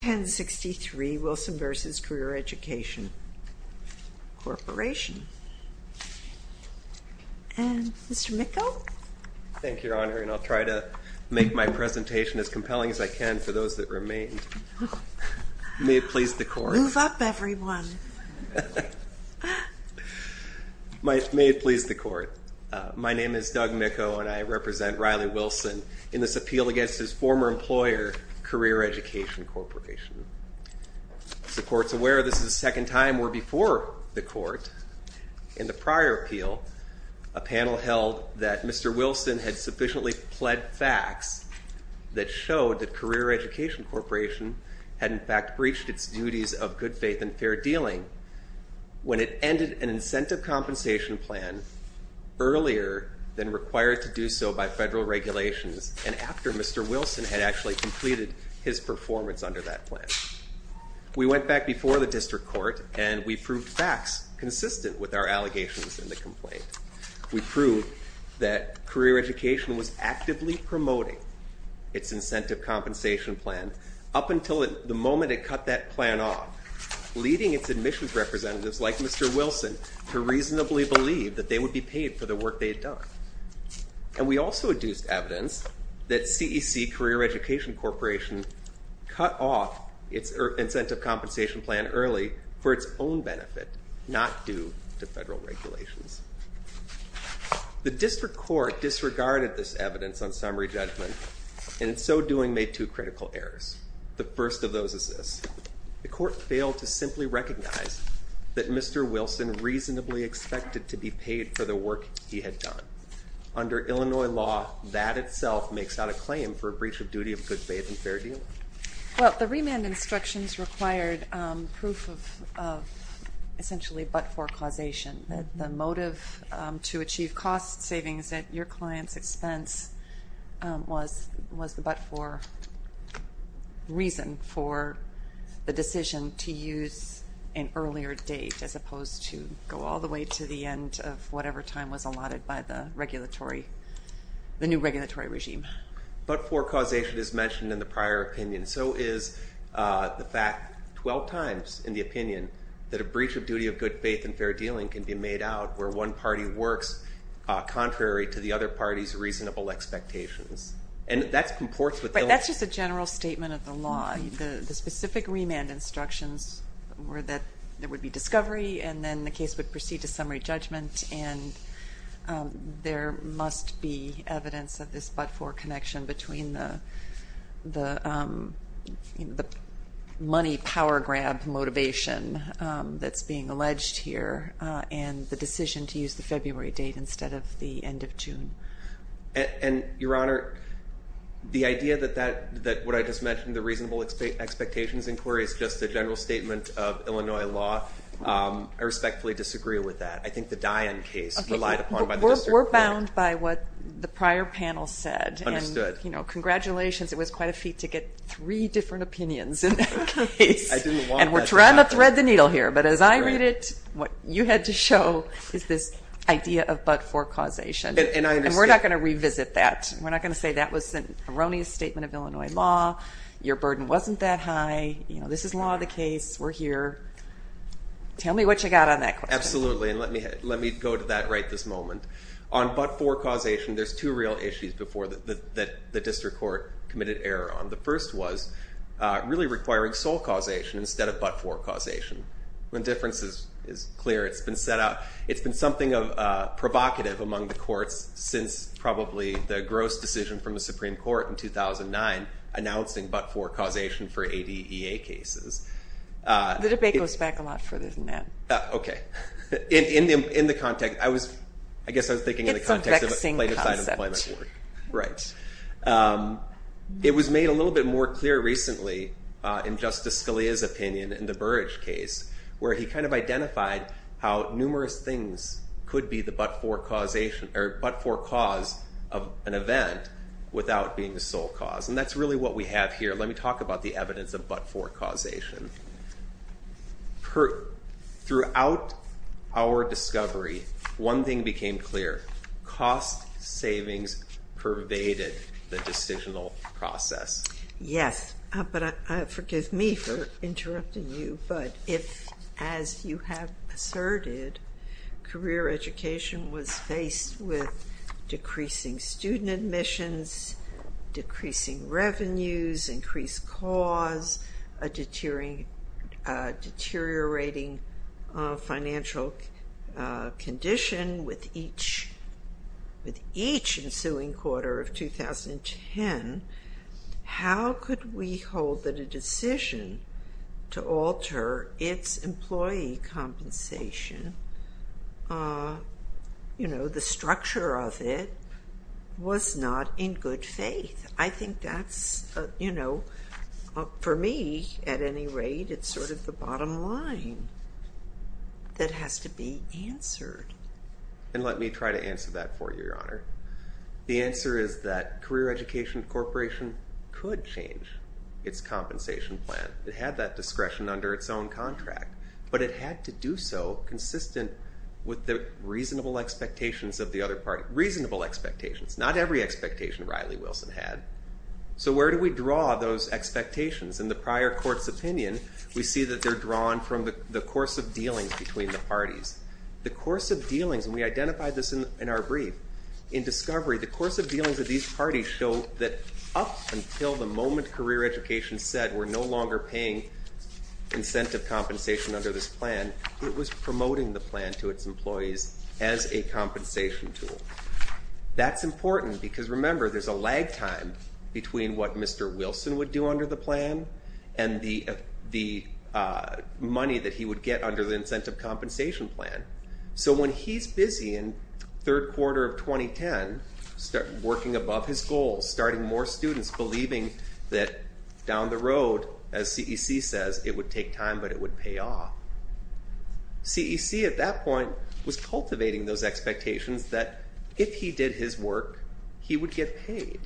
1063 Wilson v. Career Education Corporation And Mr. Mikko? Thank you, Your Honor, and I'll try to make my presentation as compelling as I can for those that remain. May it please the Court. Move up, everyone. May it please the Court. My name is Doug Mikko, and I represent Riley Wilson in this appeal against his former employer, Career Education Corporation. As the Court's aware, this is the second time we're before the Court. In the prior appeal, a panel held that Mr. Wilson had sufficiently pled facts that showed that Career Education Corporation had, in fact, breached its duties of good faith and fair dealing. When it ended an incentive compensation plan earlier than required to do so by federal regulations, and after Mr. Wilson had actually completed his performance under that plan. We went back before the District Court, and we proved facts consistent with our allegations in the complaint. We proved that Career Education was actively promoting its incentive compensation plan up until the moment it cut that plan off, leading its admissions representatives, like Mr. Wilson, to reasonably believe that they would be paid for the work they had done. And we also deduced evidence that CEC, Career Education Corporation, cut off its incentive compensation plan early for its own benefit, not due to federal regulations. The District Court disregarded this evidence on summary judgment, and in so doing, made two critical errors. The first of those is this. The Court failed to simply recognize that Mr. Wilson reasonably expected to be paid for the work he had done. Under Illinois law, that itself makes out a claim for a breach of duty of good faith and fair dealing. Well, the remand instructions required proof of essentially but-for causation. The motive to achieve cost savings at your client's expense was the but-for reason for the decision to use an earlier date, as opposed to go all the way to the end of whatever time was allotted by the new regulatory regime. But-for causation is mentioned in the prior opinion. So is the fact 12 times in the opinion that a breach of duty of good faith and fair dealing can be made out where one party works contrary to the other party's reasonable expectations. And that comports with Illinois. But that's just a general statement of the law. The specific remand instructions were that there would be discovery, and then the case would proceed to summary judgment. And there must be evidence of this but-for connection between the money power grab motivation that's being alleged here and the decision to use the February date instead of the end of June. And Your Honor, the idea that what I just mentioned, the reasonable expectations inquiry, is just a general statement of Illinois law. I respectfully disagree with that. I think the Dian case relied upon by the district court. We're bound by what the prior panel said. Understood. Congratulations. It was quite a feat to get three different opinions in that case. I didn't want that to happen. And we're trying to thread the needle here. But as I read it, what you had to show is this idea of but-for causation. And we're not going to revisit that. We're not going to say that was an erroneous statement of Illinois law. Your burden wasn't that high. This is law of the case. We're here. Tell me what you got on that question. Absolutely. And let me go to that right this moment. On but-for causation, there's two real issues before that the district court committed error on. The first was really requiring sole causation instead of but-for causation. The difference is clear. It's been something provocative among the courts since probably the gross decision from the Supreme Court in 2009 announcing but-for causation for ADEA cases. The debate goes back a lot further than that. Okay. In the context, I guess I was thinking in the context of a plaintiff's item of employment work. It's a vexing concept. Right. It was made a little bit more clear recently in Justice Scalia's opinion in the Burrage case where he kind of identified how numerous things could be the but-for causation or but-for cause of an event without being the sole cause, and that's really what we have here. Let me talk about the evidence of but-for causation. Throughout our discovery, one thing became clear. Cost savings pervaded the decisional process. Yes, but forgive me for interrupting you. But if, as you have asserted, career education was faced with decreasing student admissions, decreasing revenues, increased cost, a deteriorating financial condition with each ensuing quarter of 2010, how could we hold that a decision to alter its employee compensation, you know, the structure of it, was not in good faith? I think that's, you know, for me, at any rate, it's sort of the bottom line that has to be answered. And let me try to answer that for you, Your Honor. The answer is that Career Education Corporation could change its compensation plan. It had that discretion under its own contract, but it had to do so consistent with the reasonable expectations of the other party. So where do we draw those expectations? In the prior court's opinion, we see that they're drawn from the course of dealings between the parties. The course of dealings, and we identified this in our brief, in discovery, the course of dealings of these parties show that up until the moment Career Education said we're no longer paying incentive compensation under this plan, it was promoting the plan to its employees as a compensation tool. That's important because, remember, there's a lag time between what Mr. Wilson would do under the plan and the money that he would get under the incentive compensation plan. So when he's busy in third quarter of 2010, working above his goals, starting more students, believing that down the road, as CEC says, it would take time, but it would pay off. CEC at that point was cultivating those expectations that if he did his work, he would get paid.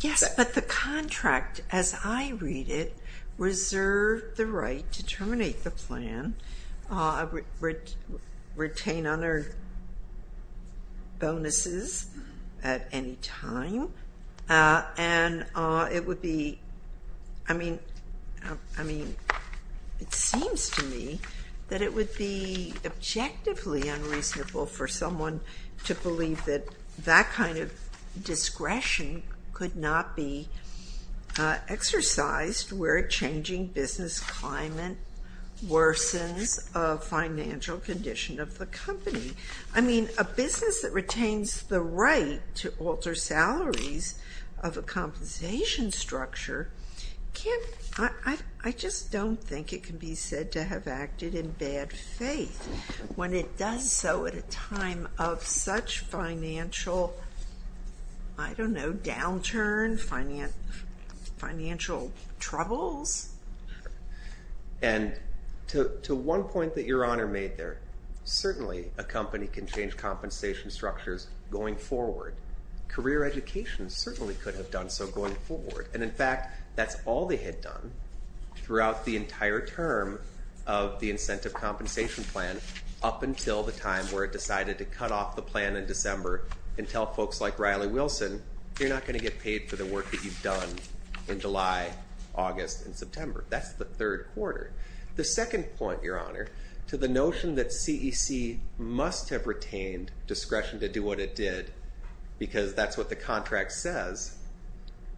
Yes, but the contract, as I read it, reserved the right to terminate the plan, retain other bonuses at any time, and it would be, I mean, it seems to me that it would be objectively unreasonable for someone to believe that that kind of discretion could not be exercised, where a changing business climate worsens a financial condition of the company. I mean, a business that retains the right to alter salaries of a compensation structure can't, I just don't think it can be said to have acted in bad faith when it does so at a time of such financial, I don't know, downturn, financial troubles. And to one point that Your Honor made there, certainly a company can change compensation structures going forward. Career education certainly could have done so going forward, and in fact, that's all they had done throughout the entire term of the incentive compensation plan up until the time where it decided to cut off the plan in December and tell folks like Riley Wilson, you're not going to get paid for the work that you've done in July, August, and September. That's the third quarter. The second point, Your Honor, to the notion that CEC must have retained discretion to do what it did because that's what the contract says,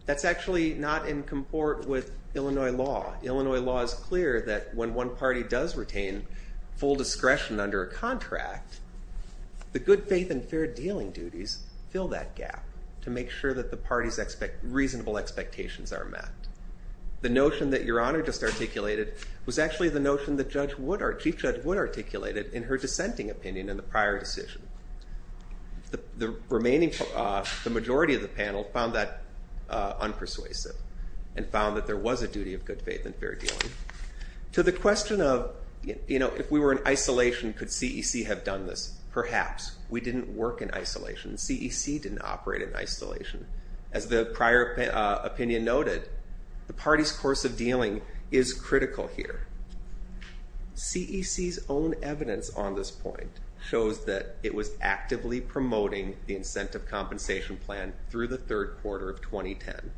that's actually not in comport with Illinois law. Illinois law is clear that when one party does retain full discretion under a contract, the good faith and fair dealing duties fill that gap to make sure that the party's reasonable expectations are met. The notion that Your Honor just articulated was actually the notion that Chief Judge Wood articulated in her dissenting opinion in the prior decision. The remaining, the majority of the panel found that unpersuasive and found that there was a duty of good faith and fair dealing. To the question of, you know, if we were in isolation, could CEC have done this? Perhaps. We didn't work in isolation. CEC didn't operate in isolation. As the prior opinion noted, the party's course of dealing is critical here. CEC's own evidence on this point shows that it was actively promoting the incentive compensation plan through the third quarter of 2010.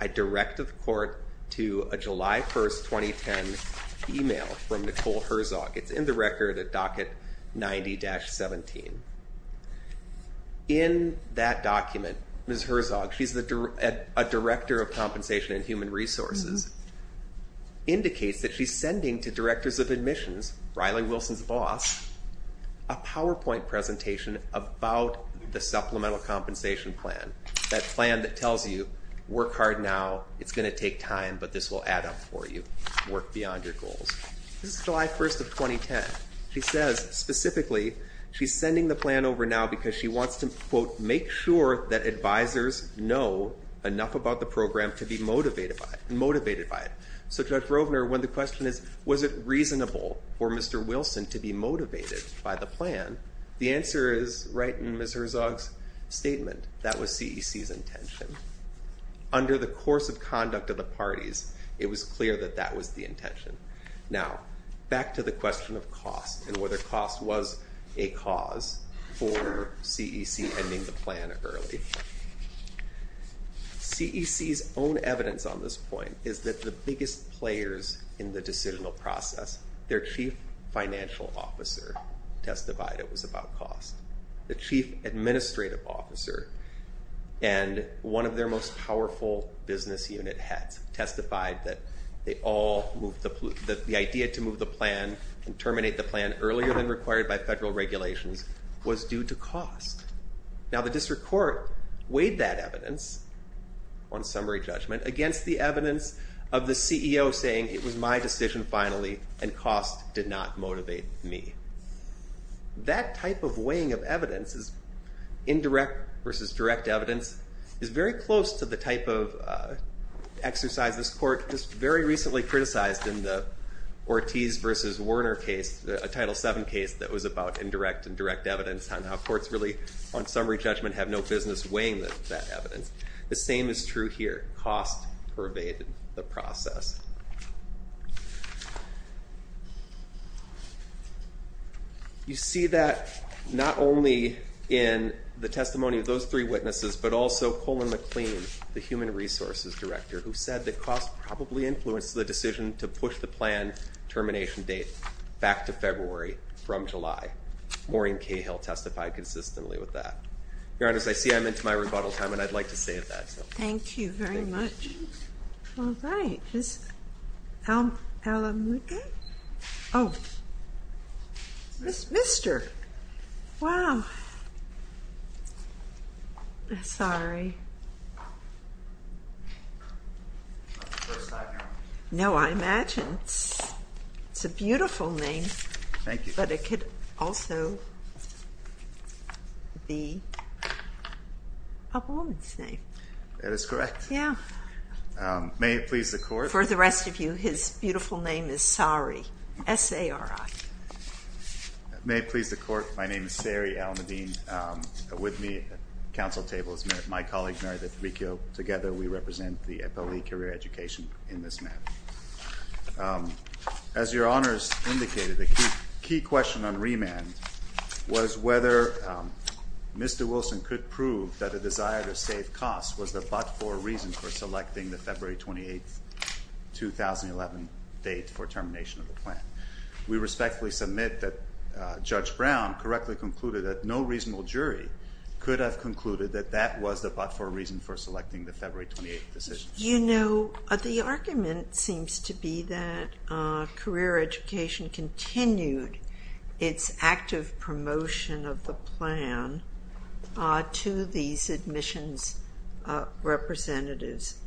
I direct the court to a July 1st, 2010 email from Nicole Herzog. It's in the record at docket 90-17. In that document, Ms. Herzog, she's a Director of Compensation and Human Resources, indicates that she's sending to directors of admissions, Riley Wilson's boss, a PowerPoint presentation about the supplemental compensation plan. That plan that tells you, work hard now. It's going to take time, but this will add up for you. Work beyond your goals. This is July 1st of 2010. She says, specifically, she's sending the plan over now because she wants to, quote, make sure that advisors know enough about the program to be motivated by it. So Judge Rovner, when the question is, was it reasonable for Mr. Wilson to be motivated by the plan? The answer is, right in Ms. Herzog's statement, that was CEC's intention. Under the course of conduct of the parties, it was clear that that was the intention. Now, back to the question of cost and whether cost was a cause for CEC ending the plan early. CEC's own evidence on this point is that the biggest players in the decisional process, their chief financial officer testified it was about cost. The chief administrative officer and one of their most powerful business unit heads testified that the idea to move the plan and terminate the plan earlier than required by federal regulations was due to cost. Now, the district court weighed that evidence on summary judgment against the evidence of the CEO saying it was my decision finally and cost did not motivate me. That type of weighing of evidence, indirect versus direct evidence, is very close to the type of exercise this court just very recently criticized in the Ortiz versus Werner case, a Title VII case, that was about indirect and direct evidence on how courts really, on summary judgment, have no business weighing that evidence. The same is true here. Cost pervaded the process. You see that not only in the testimony of those three witnesses, but also Colin McLean, the human resources director, who said that cost probably influenced the decision to push the plan termination date back to February from July. Maureen Cahill testified consistently with that. Your Honor, as I see, I'm into my rebuttal time, and I'd like to stay at that. Thank you very much. All right. Is Alamuqa? Oh. Mr. Wow. Sorry. No, I imagine it's a beautiful name. Thank you. But it could also be a woman's name. That is correct. Yeah. May it please the Court. For the rest of you, his beautiful name is Sari, S-A-R-I. May it please the Court. My name is Sari Alamuddin. With me at the council table is my colleague, Mary D'Abricchio. Together we represent the FLE career education in this matter. As your Honors indicated, the key question on remand was whether Mr. Wilson could prove that a desire to save costs was the but-for reason for selecting the February 28, 2011 date for termination of the plan. We respectfully submit that Judge Brown correctly concluded that no reasonable jury could have concluded that that was the but-for reason for selecting the February 28 decision. You know, the argument seems to be that career education continued its active promotion of the plan to these admissions representatives,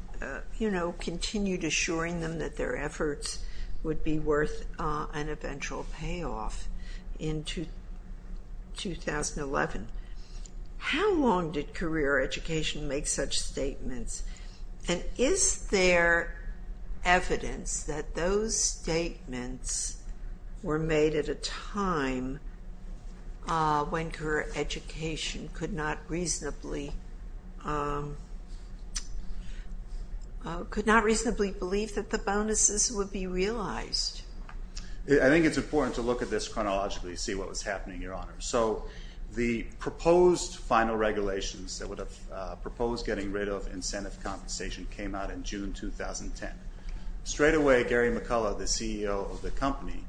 you know, continued assuring them that their efforts would be worth an eventual payoff in 2011. How long did career education make such statements? And is there evidence that those statements were made at a time when career education could not reasonably could not reasonably believe that the bonuses would be realized? I think it's important to look at this chronologically to see what was happening, Your Honor. So the proposed final regulations that would have proposed getting rid of incentive compensation came out in June 2010. Straight away, Gary McCullough, the CEO of the company,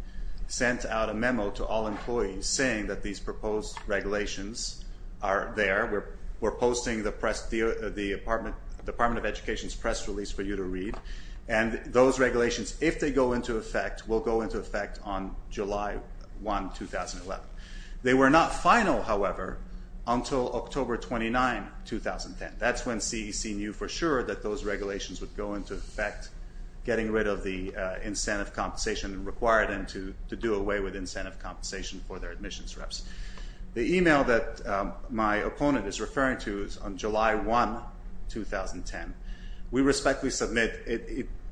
sent out a memo to all employees saying that these proposed regulations are there. We're posting the Department of Education's press release for you to read. And those regulations, if they go into effect, will go into effect on July 1, 2011. They were not final, however, until October 29, 2010. That's when CEC knew for sure that those regulations would go into effect, getting rid of the incentive compensation required and to do away with incentive compensation for their admissions reps. The email that my opponent is referring to is on July 1, 2010. We respectfully submit,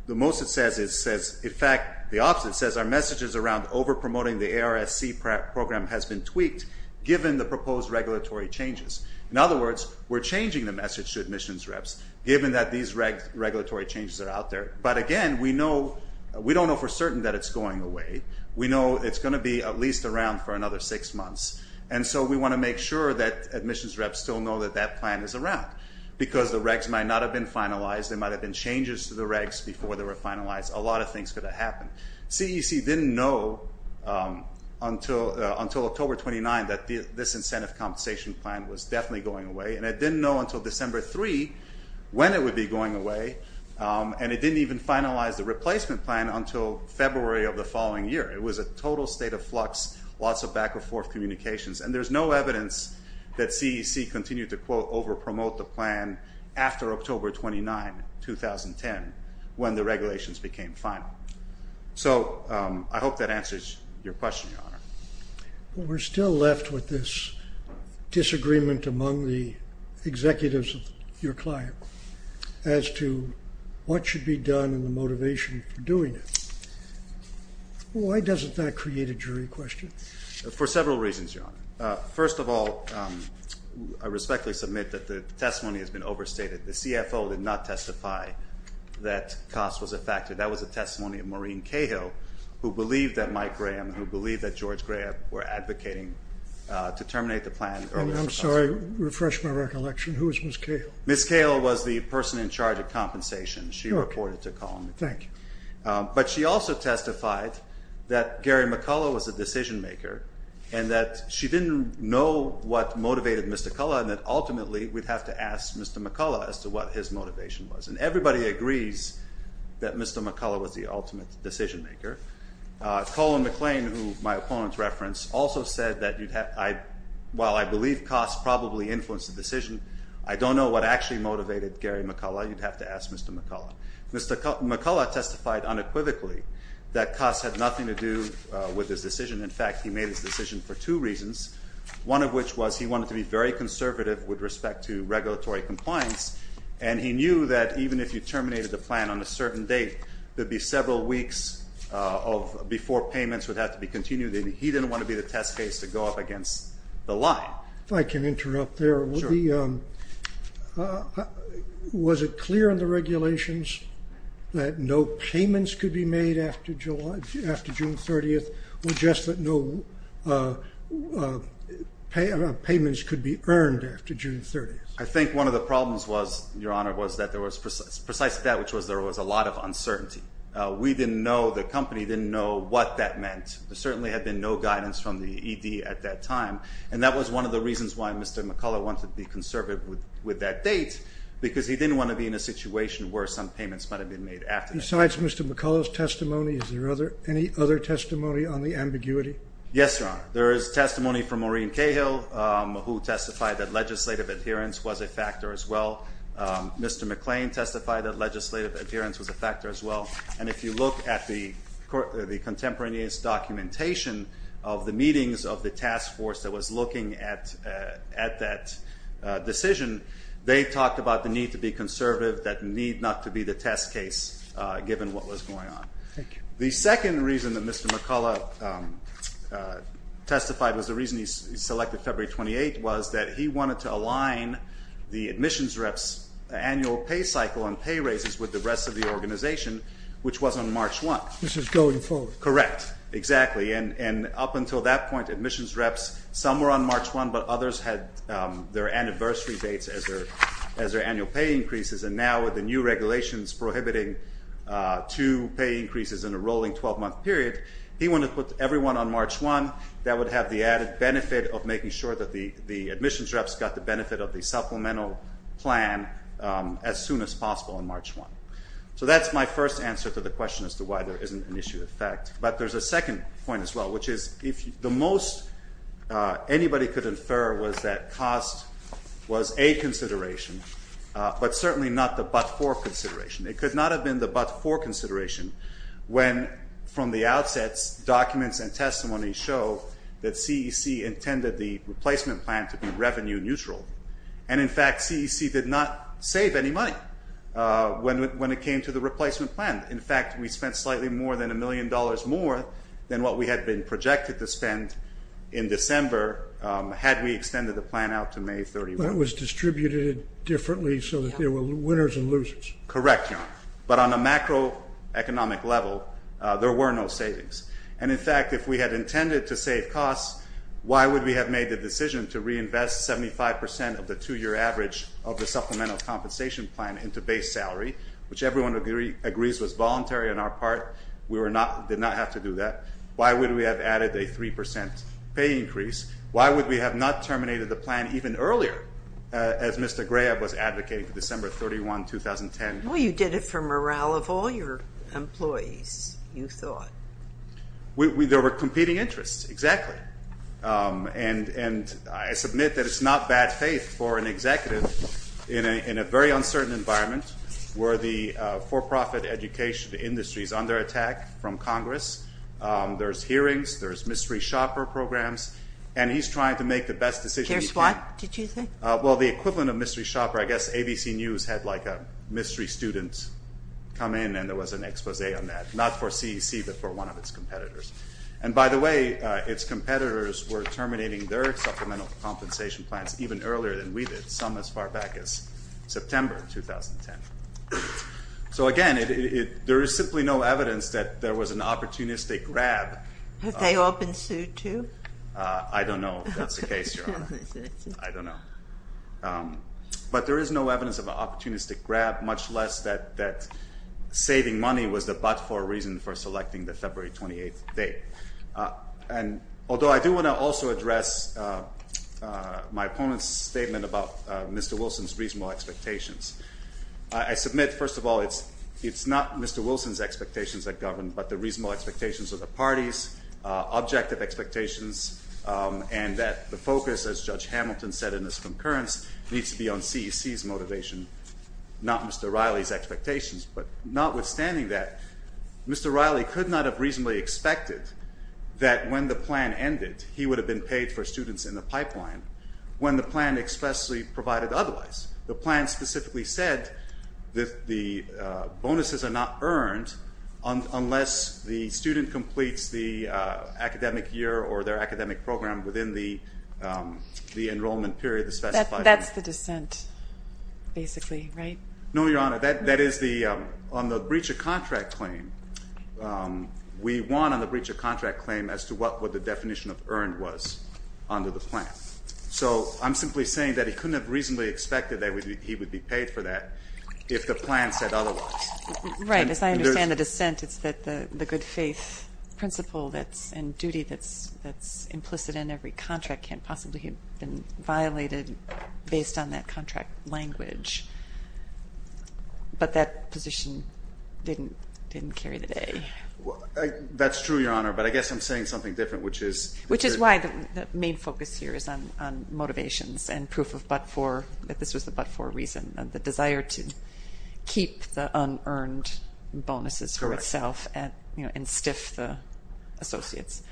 the most it says, it says, in fact, the opposite. It says our message is around over-promoting the ARSC program has been tweaked given the proposed regulatory changes. In other words, we're changing the message to admissions reps given that these regulatory changes are out there. But again, we know, we don't know for certain that it's going away. We know it's going to be at least around for another six months. And so we want to make sure that admissions reps still know that that plan is around because the regs might not have been finalized. There might have been changes to the regs before they were finalized. A lot of things could have happened. CEC didn't know until October 29 that this incentive compensation plan was definitely going away. And it didn't know until December 3 when it would be going away. And it didn't even finalize the replacement plan until February of the following year. It was a total state of flux, lots of back and forth communications. And there's no evidence that CEC continued to, quote, over-promote the plan after October 29, 2010 when the regulations became final. So I hope that answers your question, Your Honor. We're still left with this disagreement among the executives of your client as to what should be done and the motivation for doing it. Why doesn't that create a jury question? For several reasons, Your Honor. First of all, I respectfully submit that the testimony has been overstated. The CFO did not testify that costs was a factor. That was a testimony of Maureen Cahill who believed that Mike Graham and who believed that George Graham were advocating to terminate the plan earlier. I'm sorry. Refresh my recollection. Who was Ms. Cahill? Ms. Cahill was the person in charge of compensation. She reported to Column. Thank you. But she also testified that Gary McCullough was the decision maker and that she didn't know what motivated Mr. Cullough and that ultimately we'd have to ask Mr. McCullough as to what his motivation was. And everybody agrees that Mr. McCullough was the ultimate decision maker. Colin McLean, who my opponent referenced, also said that, while I believe costs probably influenced the decision, I don't know what actually motivated Gary McCullough. You'd have to ask Mr. McCullough. Mr. McCullough testified unequivocally that costs had nothing to do with his decision. In fact, he made his decision for two reasons, one of which was he wanted to be very conservative with respect to regulatory compliance and he knew that even if you terminated the plan on a certain date, there'd be several weeks before payments would have to be continued and he didn't want to be the test case to go up against the line. If I can interrupt there. Sure. Was it clear in the regulations that no payments could be made after June 30th or just that no payments could be earned after June 30th? I think one of the problems was, Your Honor, was that there was precisely that which was there was a lot of uncertainty. We didn't know, the company didn't know what that meant. There certainly had been no guidance from the ED at that time and that was one of the reasons why Mr. McCullough wanted to be conservative with that date because he didn't want to be in a situation where some payments might have been made after that. Besides Mr. McCullough's testimony, is there any other testimony on the ambiguity? Yes, Your Honor. There is testimony from Maureen Cahill who testified that legislative adherence was a factor as well. Mr. McClain testified that legislative adherence was a factor as well and if you look at the contemporaneous documentation of the meetings of the task force that was looking at that decision, they talked about the need to be conservative, that need not to be the test case given what was going on. Thank you. The second reason that Mr. McCullough testified was the reason he selected February 28th was that he wanted to align the admissions rep's annual pay cycle and pay raises with the rest of the organization, which was on March 1st. This was going forward. Correct, exactly. And up until that point, admissions reps, some were on March 1, but others had their anniversary dates as their annual pay increases and now with the new regulations prohibiting two pay increases in a rolling 12-month period, he wanted to put everyone on March 1. That would have the added benefit of making sure that the admissions reps got the benefit of the supplemental plan as soon as possible on March 1. So that's my first answer to the question as to why there isn't an issue of fact, but there's a second point as well, which is the most anybody could infer was that cost was a consideration, but certainly not the but-for consideration. It could not have been the but-for consideration when from the outset documents and testimony show that CEC intended the replacement plan to be revenue neutral, and in fact CEC did not save any money. Why? When it came to the replacement plan. In fact, we spent slightly more than $1 million more than what we had been projected to spend in December had we extended the plan out to May 31. It was distributed differently so that there were winners and losers. Correct, but on a macroeconomic level, there were no savings, and in fact if we had intended to save costs, why would we have made the decision to reinvest 75% of the two-year average of the supplemental compensation plan into base salary, which everyone agrees was voluntary on our part. We did not have to do that. Why would we have added a 3% pay increase? Why would we have not terminated the plan even earlier, as Mr. Graeb was advocating for December 31, 2010? Well, you did it for morale of all your employees, you thought. There were competing interests, exactly, and I submit that it's not bad faith for an executive in a very uncertain environment where the for-profit education industry is under attack from Congress. There's hearings, there's mystery shopper programs, and he's trying to make the best decision he can. Here's what, did you think? Well, the equivalent of mystery shopper, I guess ABC News had like a mystery student come in and there was an expose on that, not for CEC but for one of its competitors. And by the way, its competitors were terminating their supplemental compensation plans even earlier than we did, some as far back as September 2010. So again, there is simply no evidence that there was an opportunistic grab. Have they all been sued too? I don't know if that's the case, Your Honor. I don't know. But there is no evidence of an opportunistic grab, much less that saving money was the but-for reason for selecting the February 28th date. Although I do want to also address my opponent's statement about Mr. Wilson's reasonable expectations. I submit, first of all, it's not Mr. Wilson's expectations that govern but the reasonable expectations of the parties, objective expectations, and that the focus, as Judge Hamilton said in his concurrence, needs to be on CEC's motivation, not Mr. Riley's expectations. But notwithstanding that, Mr. Riley could not have reasonably expected that when the plan ended, he would have been paid for students in the pipeline when the plan expressly provided otherwise. The plan specifically said that the bonuses are not earned unless the student completes the academic year or their academic program within the enrollment period that's specified. That's the dissent, basically, right? No, Your Honor. That is the breach of contract claim. We won on the breach of contract claim as to what the definition of earned was under the plan. So I'm simply saying that he couldn't have reasonably expected that he would be paid for that if the plan said otherwise. Right. As I understand the dissent, it's that the good faith principle and duty that's implicit in every contract can't possibly have been violated based on that contract language. But that position didn't carry the day. That's true, Your Honor. But I guess I'm saying something different, which is... Which is why the main focus here is on motivations and proof of but-for, that this was the but-for reason, the desire to keep the unearned bonuses for itself and stiff the associates.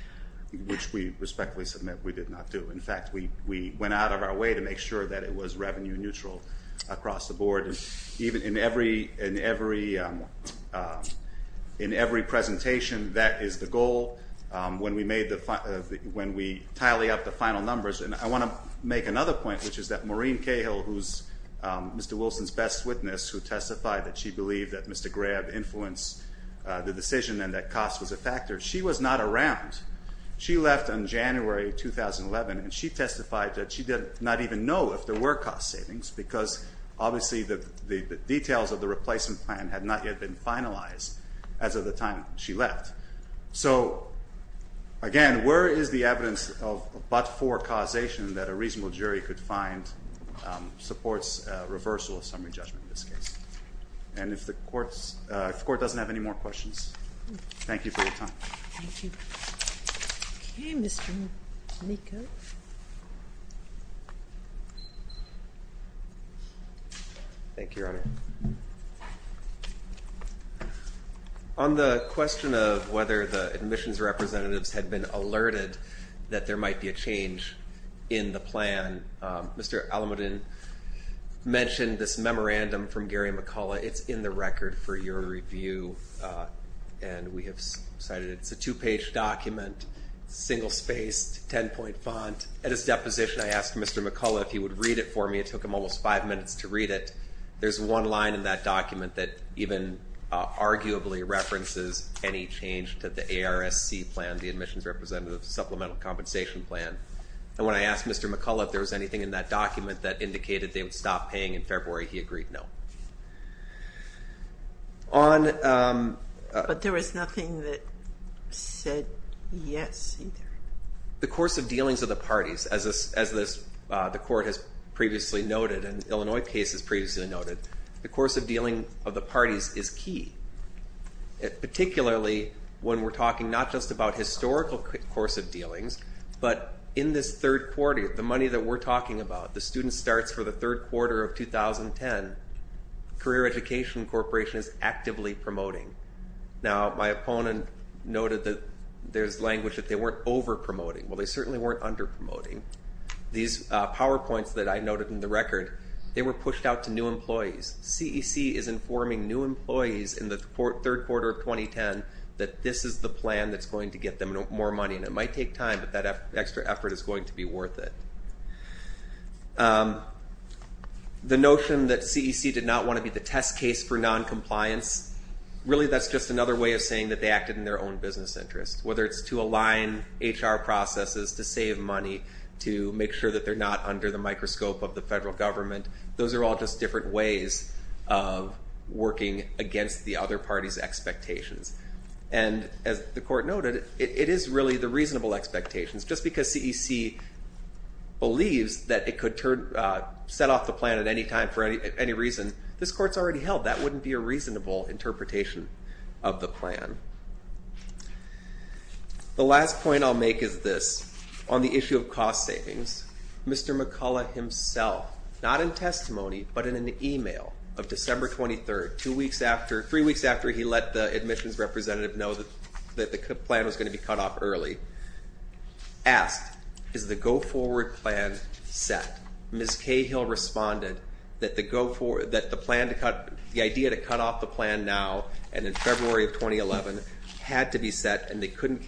Which we respectfully submit we did not do. In fact, we went out of our way to make sure that it was revenue neutral across the board. In every presentation, that is the goal when we tally up the final numbers. And I want to make another point, which is that Maureen Cahill, who's Mr. Wilson's best witness, who testified that she believed that Mr. Grab influenced the decision and that cost was a factor, she was not around. She left on January 2011, and she testified that she did not even know if there were cost savings because obviously the details of the replacement plan had not yet been finalized as of the time she left. So, again, where is the evidence of but-for causation that a reasonable jury could find supports reversal of summary judgment in this case? And if the Court doesn't have any more questions, thank you for your time. Thank you. Okay, Mr. Nikos. Thank you, Your Honor. On the question of whether the admissions representatives had been alerted that there might be a change in the plan, Mr. Alamuddin mentioned this memorandum from Gary McCullough. It's in the record for your review, and we have cited it. It's a two-page document, single-spaced, ten-point font. At his deposition, I asked Mr. McCullough if he would read it for me. It took him almost five minutes to read it. There's one line in that document that even arguably references any change to the ARSC plan, the Admissions Representative Supplemental Compensation Plan. And when I asked Mr. McCullough if there was anything in that document that indicated they would stop paying in February, he agreed no. But there was nothing that said yes either? The course of dealings of the parties, as the Court has previously noted and the Illinois case has previously noted, the course of dealing of the parties is key, particularly when we're talking not just about historical course of dealings, but in this third quarter, the money that we're talking about, the student starts for the third quarter of 2010. Career Education Corporation is actively promoting. Now, my opponent noted that there's language that they weren't overpromoting. Well, they certainly weren't underpromoting. These PowerPoints that I noted in the record, they were pushed out to new employees. CEC is informing new employees in the third quarter of 2010 that this is the plan that's going to get them more money. And it might take time, but that extra effort is going to be worth it. The notion that CEC did not want to be the test case for noncompliance, really, that's just another way of saying that they acted in their own business interest, whether it's to align HR processes, to save money, to make sure that they're not under the microscope of the federal government. Those are all just different ways of working against the other parties' expectations. And as the court noted, it is really the reasonable expectations. Just because CEC believes that it could set off the plan at any time for any reason, this court's already held. That wouldn't be a reasonable interpretation of the plan. The last point I'll make is this. On the issue of cost savings, Mr. McCullough himself, not in testimony, but in an e-mail of December 23rd, three weeks after he let the admissions representative know that the plan was going to be cut off early, asked, is the go-forward plan set? Ms. Cahill responded that the idea to cut off the plan now and in February of 2011 had to be set, and they couldn't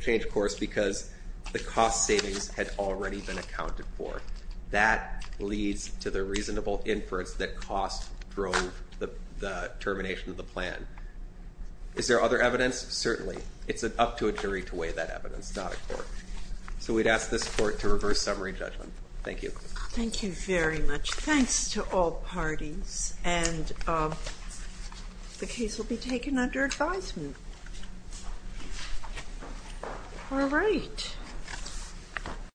change course because the cost savings had already been accounted for. That leads to the reasonable inference that cost drove the termination of the plan. Is there other evidence? Certainly. It's up to a jury to weigh that evidence, not a court. So we'd ask this court to reverse summary judgment. Thank you. Thank you very much. Thanks to all parties. And the case will be taken under advisement. All right.